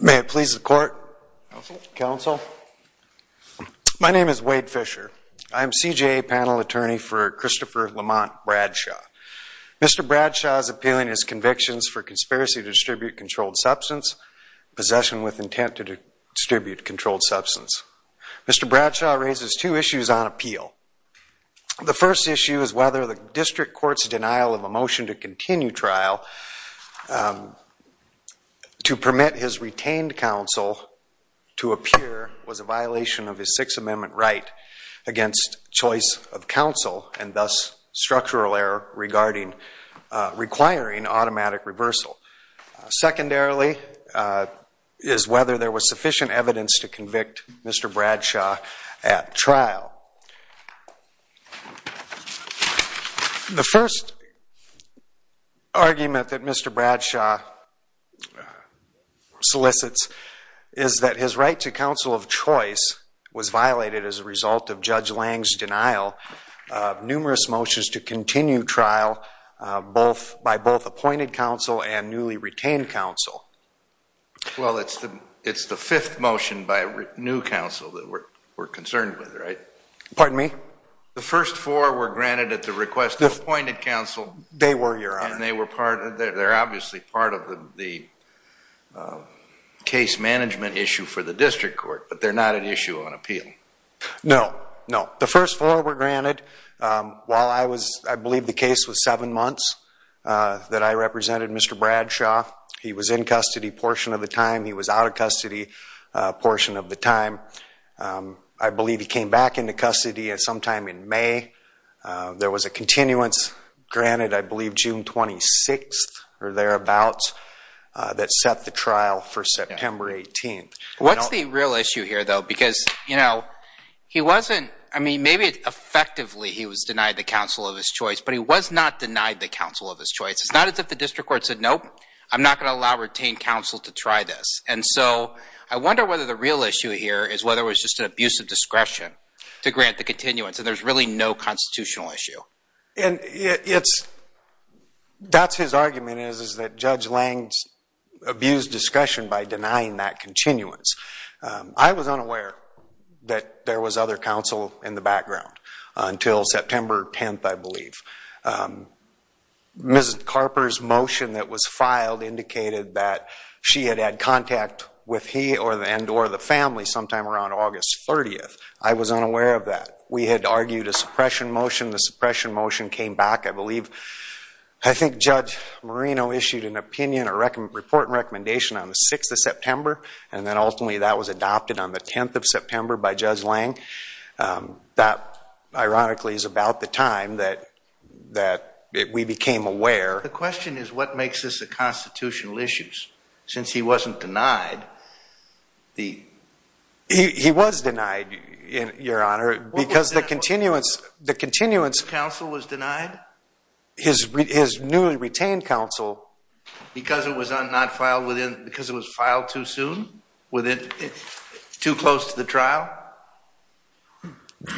May it please the court, counsel. My name is Wade Fisher. I'm CJA panel attorney for Christopher Lamont Bradshaw. Mr. Bradshaw is appealing his convictions for conspiracy to distribute controlled substance, possession with intent to distribute controlled substance. Mr. Bradshaw raises two issues on appeal. The first issue is whether the district court's denial of a motion to continue trial to permit his retained counsel to appear was a violation of his Sixth Amendment right against choice of counsel and thus structural error regarding requiring automatic reversal. Secondarily, is whether there was sufficient evidence to convict Mr. Bradshaw at trial. The first argument that Mr. Bradshaw solicits is that his right to counsel of choice was violated as a result of Judge Lang's denial of numerous motions to continue trial by both appointed counsel and newly retained counsel. Well, it's the fifth motion by new counsel that we're concerned with, right? Pardon me? The first four were granted at the request of appointed counsel. They were, your honor. And they're obviously part of the case management issue for the district court, but they're not an issue on appeal. No, no. The first four were granted while I was, I believe the case was seven months that I represented Mr. Bradshaw. He was in custody portion of the time. He was out of custody portion of the time. I believe he came back into custody at some time in May. There was a continuance granted, I believe, June 26th or thereabouts that set the trial for September 18th. What's the real issue here, though? Because, you know, he wasn't, I mean, maybe effectively he was denied the counsel of his choice, but he was not denied the counsel of his choice. It's not as if the district court said, nope, I'm not going to allow retained counsel to try this. And so I wonder whether the real issue here is whether it was just an abuse of discretion to grant the continuance. And there's really no constitutional issue. And it's, that's his argument is that Judge Lange abused discretion by denying that continuance. I was unaware that there was other counsel in the background until September 10th, I believe. Mrs. Carper's motion that was filed indicated that she had had contact with he and or the family sometime around August 30th. I was unaware of that. We had argued a suppression motion. The suppression motion came back, I believe. I think Judge Marino issued an opinion or report and recommendation on the 6th of September. And then ultimately that was adopted on the 10th of September by Judge Lange. That, ironically, is about the time that we became aware. The question is what makes this a constitutional issue since he wasn't denied the... He was denied, Your Honor, because the continuance... Counsel was denied? His newly retained counsel. Because it was not filed within, because it was filed too soon? Too close to the trial?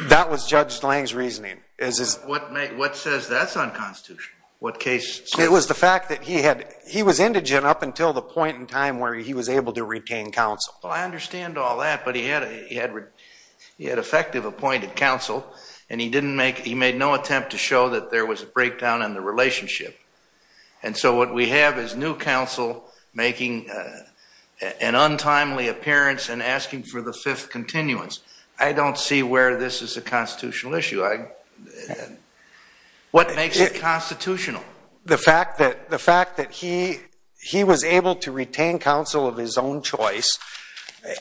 That was Judge Lange's reasoning. What says that's unconstitutional? It was the fact that he was indigent up until the point in time where he was able to retain counsel. Well, I understand all that, but he had effective appointed counsel, and he made no attempt to show that there was a breakdown in the relationship. And so what we have is new counsel making an untimely appearance and asking for the 5th continuance. I don't see where this is a constitutional issue. What makes it constitutional? The fact that he was able to retain counsel of his own choice,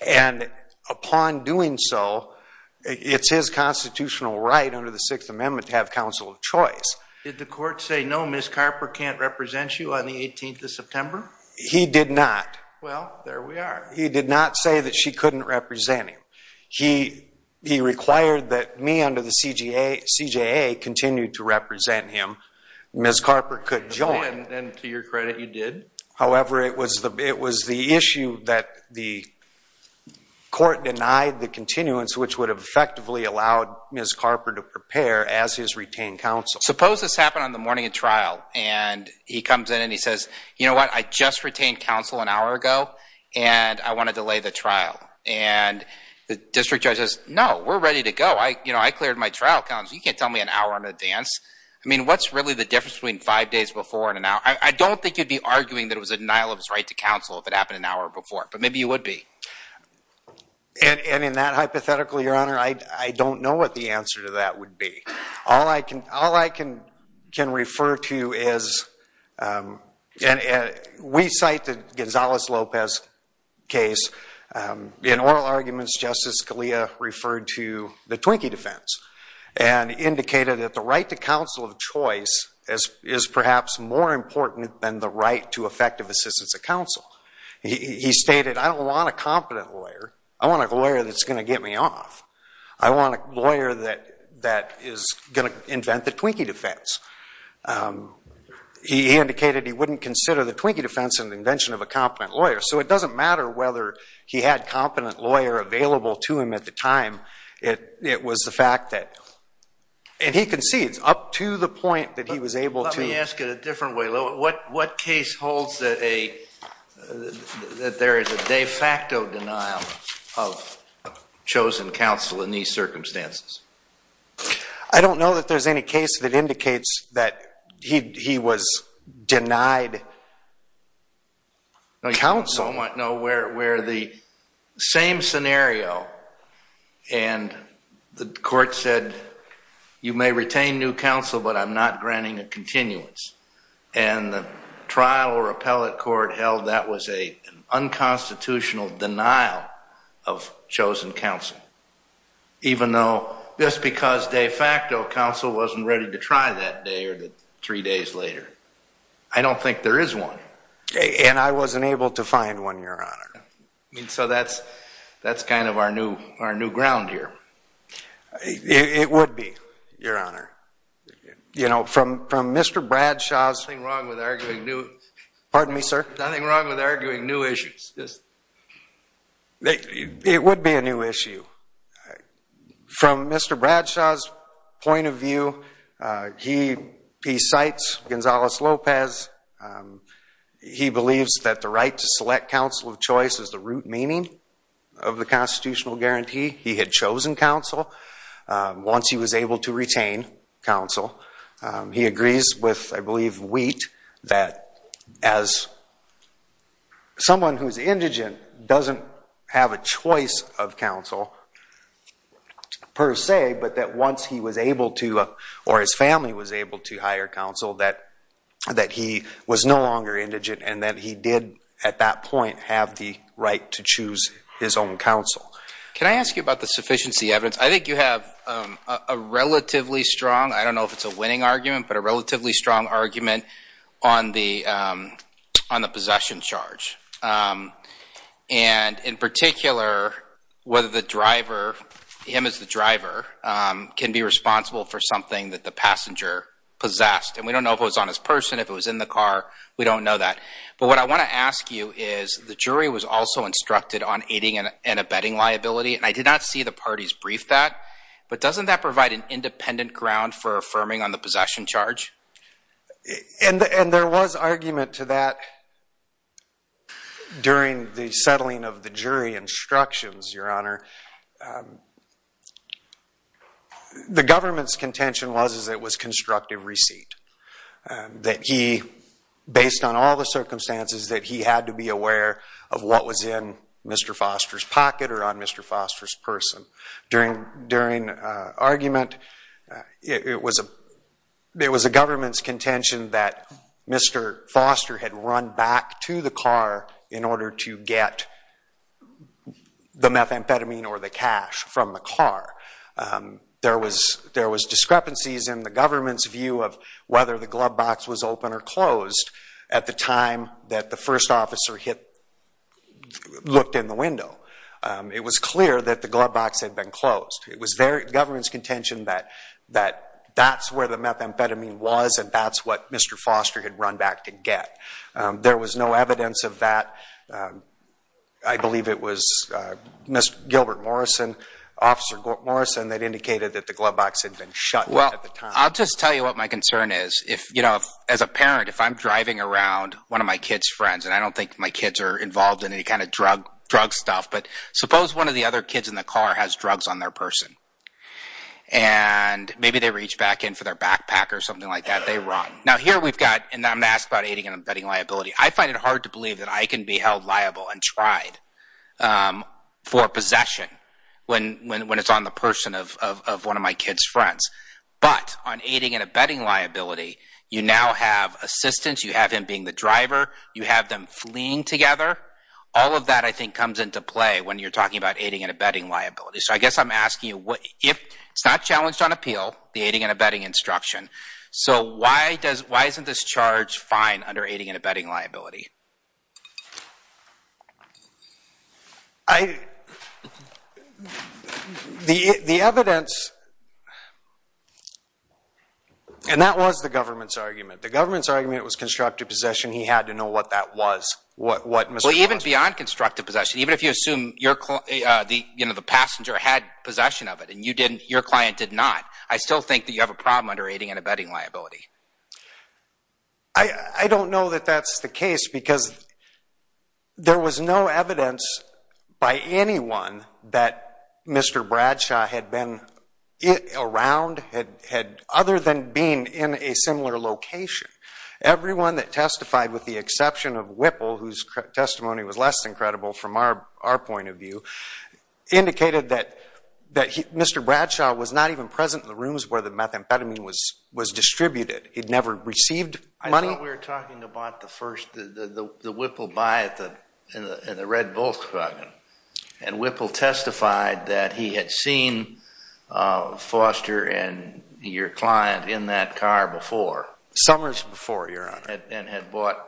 and upon doing so, it's his constitutional right under the Sixth Amendment to have counsel of choice. Did the court say, no, Ms. Carper can't represent you on the 18th of September? He did not. Well, there we are. He did not say that she couldn't represent him. He required that me under the CJA continue to represent him. Ms. Carper could join. And to your credit, you did? However, it was the issue that the court denied the continuance, which would have effectively allowed Ms. Carper to prepare as his retained counsel. Suppose this happened on the morning of trial, and he comes in and he says, you know what, I just retained counsel an hour ago, and I want to delay the trial. And the district judge says, no, we're ready to go. You can't tell me an hour in advance. I mean, what's really the difference between five days before and an hour? I don't think you'd be arguing that it was a denial of his right to counsel if it happened an hour before, but maybe you would be. And in that hypothetical, Your Honor, I don't know what the answer to that would be. All I can refer to is, and we cite the Gonzales-Lopez case. In oral arguments, Justice Scalia referred to the Twinkie defense and indicated that the right to counsel of choice is perhaps more important than the right to effective assistance of counsel. He stated, I don't want a competent lawyer. I want a lawyer that's going to get me off. I want a lawyer that is going to invent the Twinkie defense. He indicated he wouldn't consider the Twinkie defense an invention of a competent lawyer. So it doesn't matter whether he had a competent lawyer available to him at the time. It was the fact that, and he concedes up to the point that he was able to. Let me ask it a different way. What case holds that there is a de facto denial of chosen counsel in these circumstances? I don't know that there's any case that indicates that he was denied counsel. No, where the same scenario and the court said, you may retain new counsel, but I'm not granting a continuance, and the trial or appellate court held that was an unconstitutional denial of chosen counsel, even though just because de facto counsel wasn't ready to try that day or three days later. I don't think there is one. And I wasn't able to find one, Your Honor. So that's kind of our new ground here. It would be, Your Honor. You know, from Mr. Bradshaw's point of view, he cites Gonzales-Lopez. He believes that the right to select counsel of choice is the root meaning of the constitutional guarantee. He had chosen counsel once he was able to retain counsel. He agrees with, I believe, Wheat that as someone who is indigent doesn't have a choice of counsel per se, but that once he was able to or his family was able to hire counsel, that he was no longer indigent and that he did at that point have the right to choose his own counsel. Can I ask you about the sufficiency evidence? I think you have a relatively strong, I don't know if it's a winning argument, but a relatively strong argument on the possession charge. And in particular, whether the driver, him as the driver, can be responsible for something that the passenger possessed. And we don't know if it was on his person, if it was in the car. We don't know that. But what I want to ask you is, the jury was also instructed on aiding and abetting liability, and I did not see the parties brief that. But doesn't that provide an independent ground for affirming on the possession charge? And there was argument to that during the settling of the jury instructions, Your Honor. The government's contention was that it was constructive receipt. That he, based on all the circumstances, that he had to be aware of what was in Mr. Foster's pocket or on Mr. Foster's person. During argument, it was a government's contention that Mr. Foster had run back to the car in order to get the methamphetamine or the cash from the car. There was discrepancies in the government's view of whether the glove box was open or closed at the time that the first officer looked in the window. It was clear that the glove box had been closed. It was government's contention that that's where the methamphetamine was and that's what Mr. Foster had run back to get. There was no evidence of that. I believe it was Mr. Gilbert Morrison, Officer Morrison, that indicated that the glove box had been shut at the time. Well, I'll just tell you what my concern is. As a parent, if I'm driving around one of my kid's friends, and I don't think my kids are involved in any kind of drug stuff, but suppose one of the other kids in the car has drugs on their person. And maybe they reach back in for their backpack or something like that. They run. Now, here we've got—and I'm going to ask about aiding and abetting liability. I find it hard to believe that I can be held liable and tried for possession when it's on the person of one of my kid's friends. But on aiding and abetting liability, you now have assistance. You have him being the driver. You have them fleeing together. All of that, I think, comes into play when you're talking about aiding and abetting liability. So I guess I'm asking you, if it's not challenged on appeal, the aiding and abetting instruction, so why isn't this charge fine under aiding and abetting liability? The evidence—and that was the government's argument. The government's argument was constructive possession. He had to know what that was. Even beyond constructive possession, even if you assume the passenger had possession of it and your client did not, I still think that you have a problem under aiding and abetting liability. I don't know that that's the case because there was no evidence by anyone that Mr. Bradshaw had been around other than being in a similar location. Everyone that testified with the exception of Whipple, whose testimony was less than credible from our point of view, indicated that Mr. Bradshaw was not even present in the rooms where the methamphetamine was distributed. He'd never received money. I thought we were talking about the first—the Whipple buy in the red Volkswagen. And Whipple testified that he had seen Foster and your client in that car before. Summers before, Your Honor. And had bought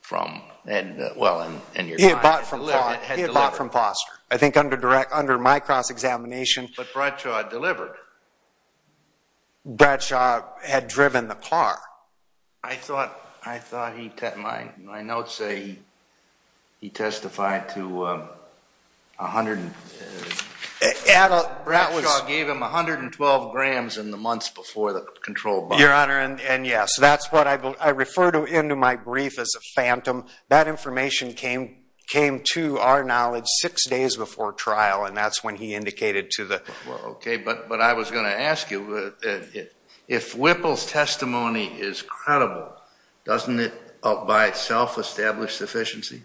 from—well, and your client had delivered. Delivered from Foster. I think under my cross-examination— But Bradshaw delivered. Bradshaw had driven the car. I thought he—my notes say he testified to 100— Bradshaw gave him 112 grams in the months before the controlled buy. Your Honor, and yes, that's what I refer to in my brief as a phantom. That information came to our knowledge six days before trial, and that's when he indicated to the— Okay, but I was going to ask you, if Whipple's testimony is credible, doesn't it by itself establish sufficiency?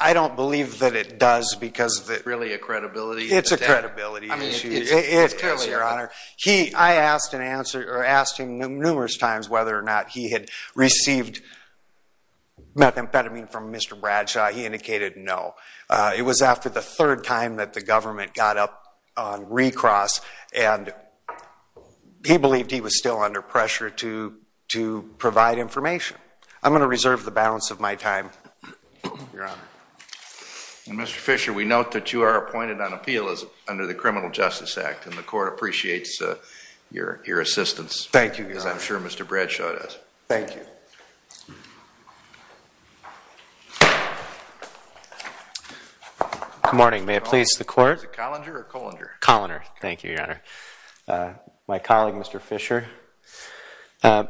I don't believe that it does because— It's really a credibility— It's a credibility issue. Yes, Your Honor. I asked him numerous times whether or not he had received methamphetamine from Mr. Bradshaw. He indicated no. It was after the third time that the government got up on recross, and he believed he was still under pressure to provide information. I'm going to reserve the balance of my time, Your Honor. Mr. Fisher, we note that you are appointed on appeal under the Criminal Justice Act, and the Court appreciates your assistance. Thank you, Your Honor. As I'm sure Mr. Bradshaw does. Thank you. Good morning. May it please the Court? Is it Collinger or Collinger? Collinger. Thank you, Your Honor. My colleague, Mr. Fisher. Your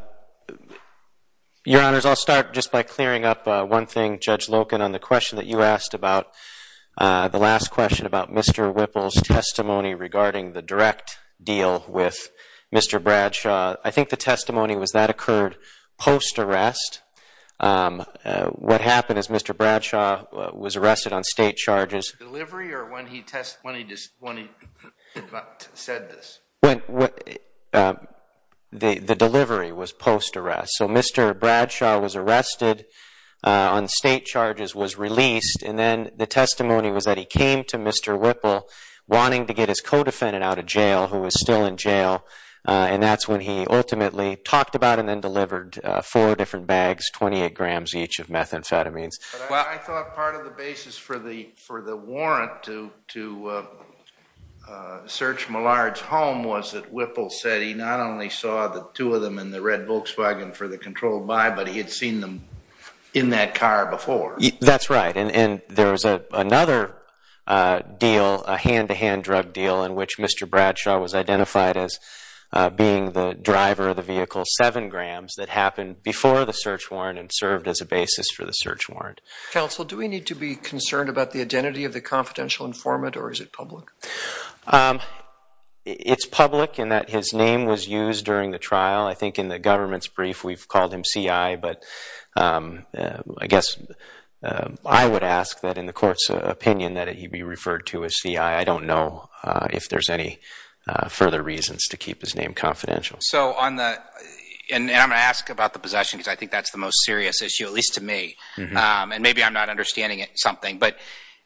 Honors, I'll start just by clearing up one thing, Judge Loken, on the question that you asked about—the last question about Mr. Whipple's testimony regarding the direct deal with Mr. Bradshaw. I think the testimony was that occurred post-arrest. What happened is Mr. Bradshaw was arrested on state charges. Delivery or when he said this? The delivery was post-arrest. So Mr. Bradshaw was arrested on state charges, was released, and then the testimony was that he came to Mr. Whipple wanting to get his co-defendant out of jail who was still in jail, and that's when he ultimately talked about and then delivered four different bags, 28 grams each of methamphetamines. I thought part of the basis for the warrant to search Millard's home was that Whipple said that he not only saw the two of them in the red Volkswagen for the controlled buy, but he had seen them in that car before. That's right, and there was another deal, a hand-to-hand drug deal, in which Mr. Bradshaw was identified as being the driver of the vehicle, seven grams, that happened before the search warrant and served as a basis for the search warrant. Counsel, do we need to be concerned about the identity of the confidential informant, or is it public? It's public in that his name was used during the trial. I think in the government's brief we've called him C.I., but I guess I would ask that in the court's opinion that he be referred to as C.I. I don't know if there's any further reasons to keep his name confidential. And I'm going to ask about the possession because I think that's the most serious issue, at least to me, and maybe I'm not understanding something.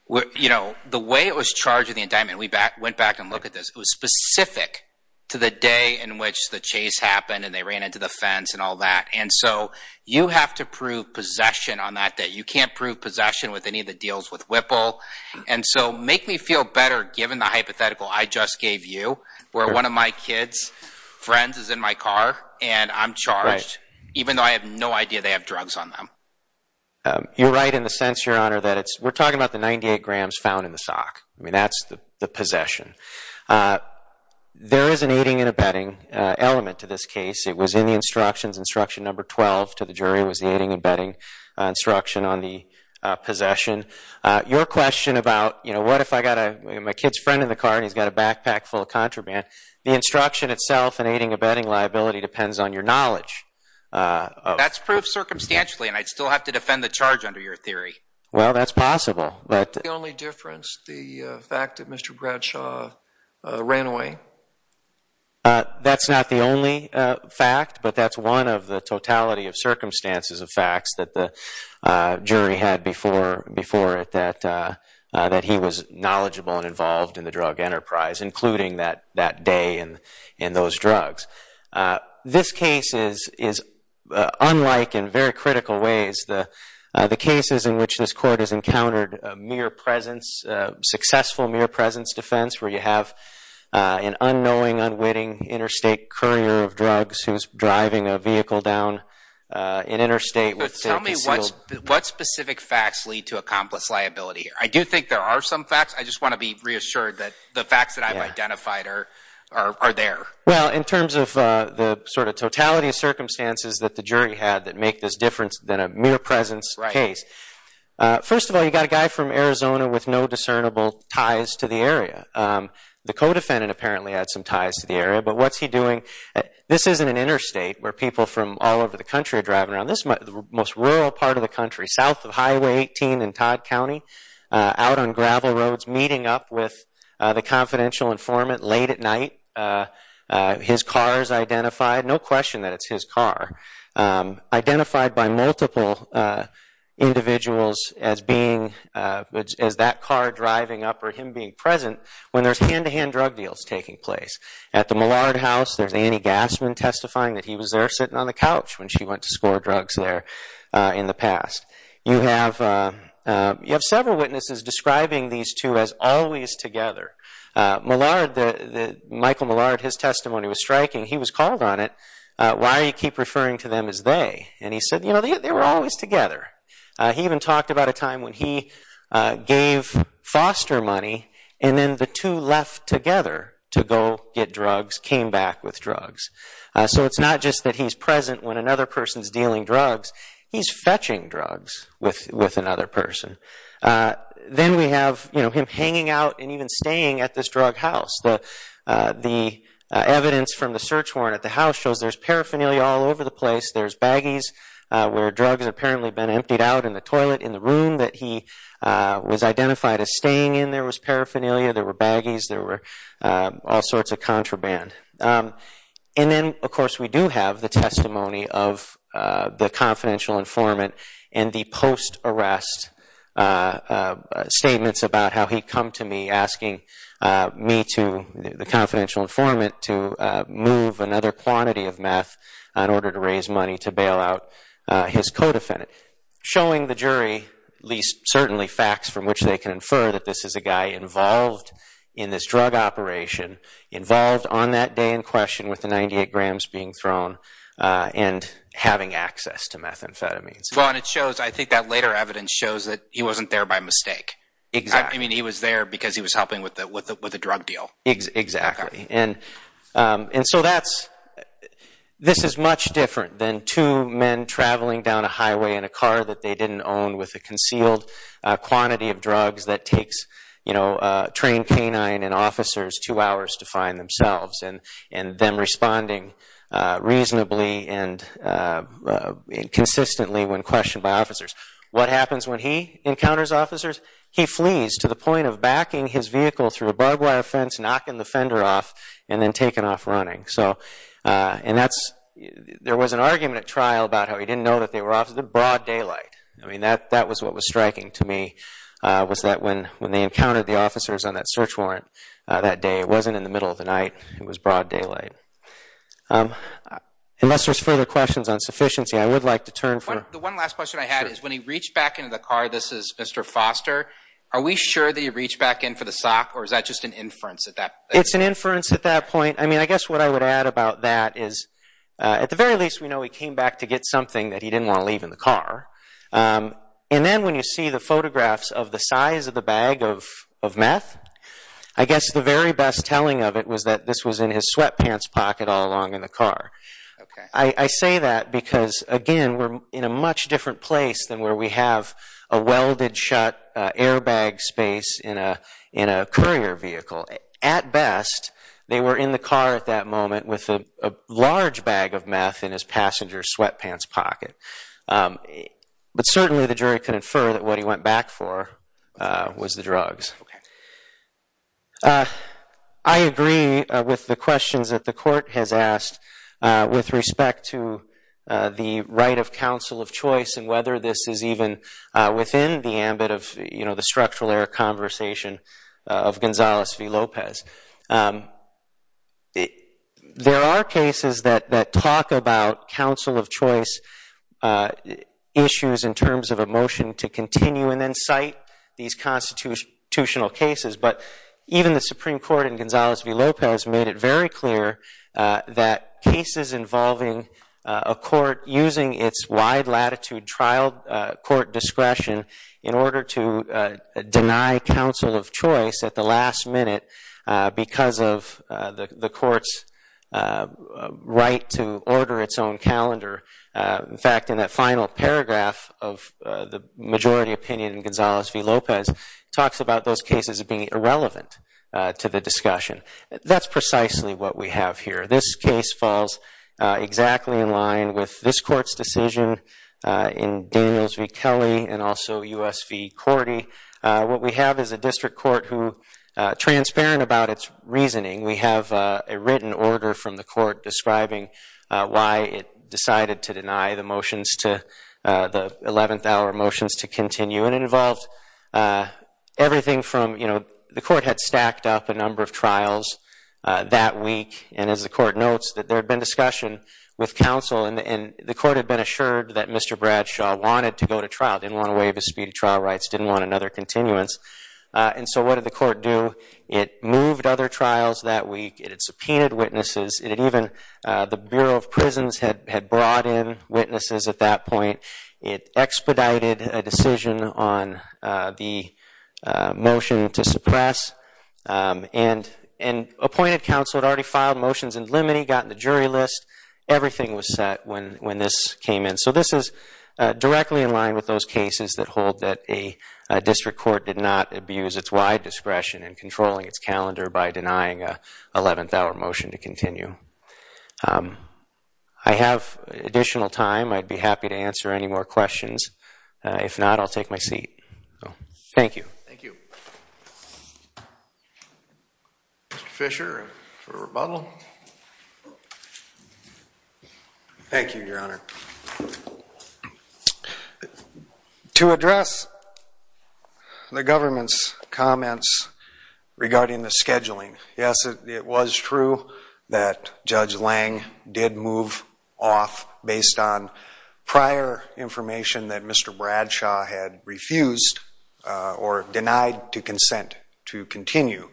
The way it was charged in the indictment, we went back and looked at this, it was specific to the day in which the chase happened and they ran into the fence and all that. And so you have to prove possession on that day. You can't prove possession with any of the deals with Whipple. And so make me feel better given the hypothetical I just gave you where one of my kid's friends is in my car and I'm charged, even though I have no idea they have drugs on them. You're right in the sense, Your Honor, that we're talking about the 98 grams found in the sock. I mean, that's the possession. There is an aiding and abetting element to this case. It was in the instructions, instruction number 12 to the jury was the aiding and abetting instruction on the possession. Your question about what if I've got my kid's friend in the car and he's got a backpack full of contraband, That's proof circumstantially, and I'd still have to defend the charge under your theory. Well, that's possible. That's the only difference, the fact that Mr. Bradshaw ran away. That's not the only fact, but that's one of the totality of circumstances of facts that the jury had before it, that he was knowledgeable and involved in the drug enterprise, including that day and those drugs. This case is unlike in very critical ways the cases in which this court has encountered a successful mere presence defense where you have an unknowing, unwitting interstate courier of drugs who's driving a vehicle down an interstate. Tell me what specific facts lead to accomplice liability. I do think there are some facts. I just want to be reassured that the facts that I've identified are there. Well, in terms of the sort of totality of circumstances that the jury had that make this difference than a mere presence case, first of all, you've got a guy from Arizona with no discernible ties to the area. The co-defendant apparently had some ties to the area, but what's he doing? This isn't an interstate where people from all over the country are driving around. This is the most rural part of the country, south of Highway 18 in Todd County, out on gravel roads, meeting up with the confidential informant late at night. His car is identified. No question that it's his car. Identified by multiple individuals as that car driving up or him being present when there's hand-to-hand drug deals taking place. At the Millard House, there's Annie Gassman testifying that he was there sitting on the couch when she went to score drugs there in the past. You have several witnesses describing these two as always together. Michael Millard, his testimony was striking. He was called on it. Why do you keep referring to them as they? And he said, you know, they were always together. He even talked about a time when he gave foster money and then the two left together to go get drugs, came back with drugs. So it's not just that he's present when another person's dealing drugs. He's fetching drugs with another person. Then we have him hanging out and even staying at this drug house. The evidence from the search warrant at the house shows there's paraphernalia all over the place. There's baggies where drugs have apparently been emptied out in the toilet. In the room that he was identified as staying in, there was paraphernalia. There were baggies. There were all sorts of contraband. And then, of course, we do have the testimony of the confidential informant and the post-arrest statements about how he'd come to me asking me to, the confidential informant, to move another quantity of meth in order to raise money to bail out his co-defendant, showing the jury at least certainly facts from which they can infer that this is a guy involved in this drug operation, involved on that day in question with the 98 grams being thrown and having access to methamphetamines. Well, and it shows, I think that later evidence shows, that he wasn't there by mistake. Exactly. I mean, he was there because he was helping with the drug deal. Exactly. And so this is much different than two men traveling down a highway in a car that they didn't own with a concealed quantity of drugs that takes a trained canine and officers two hours to find themselves and them responding reasonably and consistently when questioned by officers. What happens when he encounters officers? He flees to the point of backing his vehicle through a barbed wire fence, knocking the fender off, and then taken off running. And there was an argument at trial about how he didn't know that they were officers. The broad daylight. I mean, that was what was striking to me, was that when they encountered the officers on that search warrant that day, it wasn't in the middle of the night. It was broad daylight. Unless there's further questions on sufficiency, I would like to turn for… The one last question I had is when he reached back into the car, this is Mr. Foster, are we sure that he reached back in for the sock or is that just an inference at that point? It's an inference at that point. I mean, I guess what I would add about that is, at the very least, we know he came back to get something that he didn't want to leave in the car. And then when you see the photographs of the size of the bag of meth, I guess the very best telling of it was that this was in his sweatpants pocket all along in the car. I say that because, again, we're in a much different place than where we have a welded shut airbag space in a courier vehicle. At best, they were in the car at that moment with a large bag of meth in his passenger's sweatpants pocket. But certainly the jury can infer that what he went back for was the drugs. I agree with the questions that the Court has asked with respect to the right of counsel of choice and whether this is even within the ambit of the structural air conversation of Gonzales v. Lopez. There are cases that talk about counsel of choice issues in terms of a motion to continue and then cite these constitutional cases. But even the Supreme Court in Gonzales v. Lopez made it very clear that cases involving a court using its wide-latitude trial court discretion in order to deny counsel of choice at the last minute because of the court's right to order its own calendar. In fact, in that final paragraph of the majority opinion in Gonzales v. Lopez, it talks about those cases being irrelevant to the discussion. That's precisely what we have here. This case falls exactly in line with this Court's decision in Daniels v. Kelly and also U.S. v. Cordy. What we have is a district court who, transparent about its reasoning, we have a written order from the Court describing why it decided to deny the motions to the 11th hour motions to continue. And it involved everything from, you know, the Court had stacked up a number of trials that week, and as the Court notes that there had been discussion with counsel, and the Court had been assured that Mr. Bradshaw wanted to go to trial, didn't want to waive his speedy trial rights, didn't want another continuance. And so what did the Court do? It moved other trials that week. It had subpoenaed witnesses. It had even the Bureau of Prisons had brought in witnesses at that point. It expedited a decision on the motion to suppress and appointed counsel had already filed motions and limine got on the jury list. Everything was set when this came in. So this is directly in line with those cases that hold that a district court did not abuse its wide discretion in controlling its calendar by denying an 11th hour motion to continue. I have additional time. I'd be happy to answer any more questions. If not, I'll take my seat. Thank you. Thank you. Mr. Fisher for rebuttal. Thank you, Your Honor. To address the government's comments regarding the scheduling, yes, it was true that Judge Lange did move off based on prior information that Mr. Bradshaw had refused or denied to consent to continue.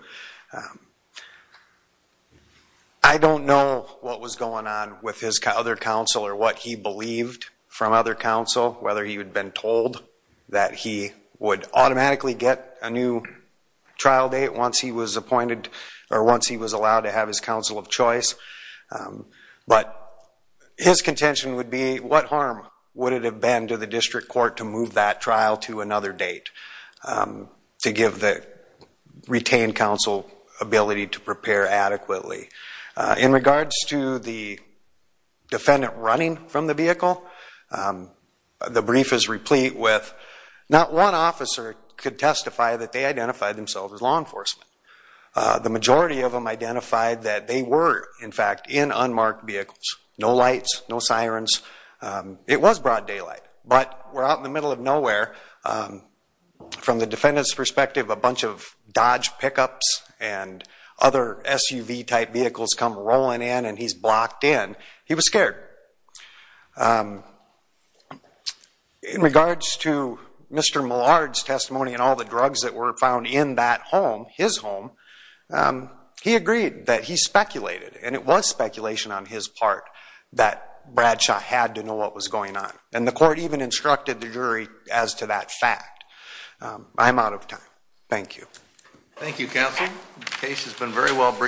I don't know what was going on with his other counsel or what he believed from other counsel, whether he had been told that he would automatically get a new trial date once he was appointed or once he was allowed to have his counsel of choice. But his contention would be, what harm would it have been to the district court to move that trial to another date to give the retained counsel ability to prepare adequately? In regards to the defendant running from the vehicle, the brief is replete with not one officer could testify that they identified themselves as law enforcement. The majority of them identified that they were, in fact, in unmarked vehicles. No lights, no sirens. It was broad daylight, but we're out in the middle of nowhere. From the defendant's perspective, a bunch of Dodge pickups and other SUV type vehicles come rolling in and he's blocked in. He was scared. In regards to Mr. Millard's testimony and all the drugs that were found in that home, his home, he agreed that he speculated, and it was speculation on his part, that Bradshaw had to know what was going on. And the court even instructed the jury as to that fact. I'm out of time. Thank you. Thank you, counsel. The case has been very well briefed.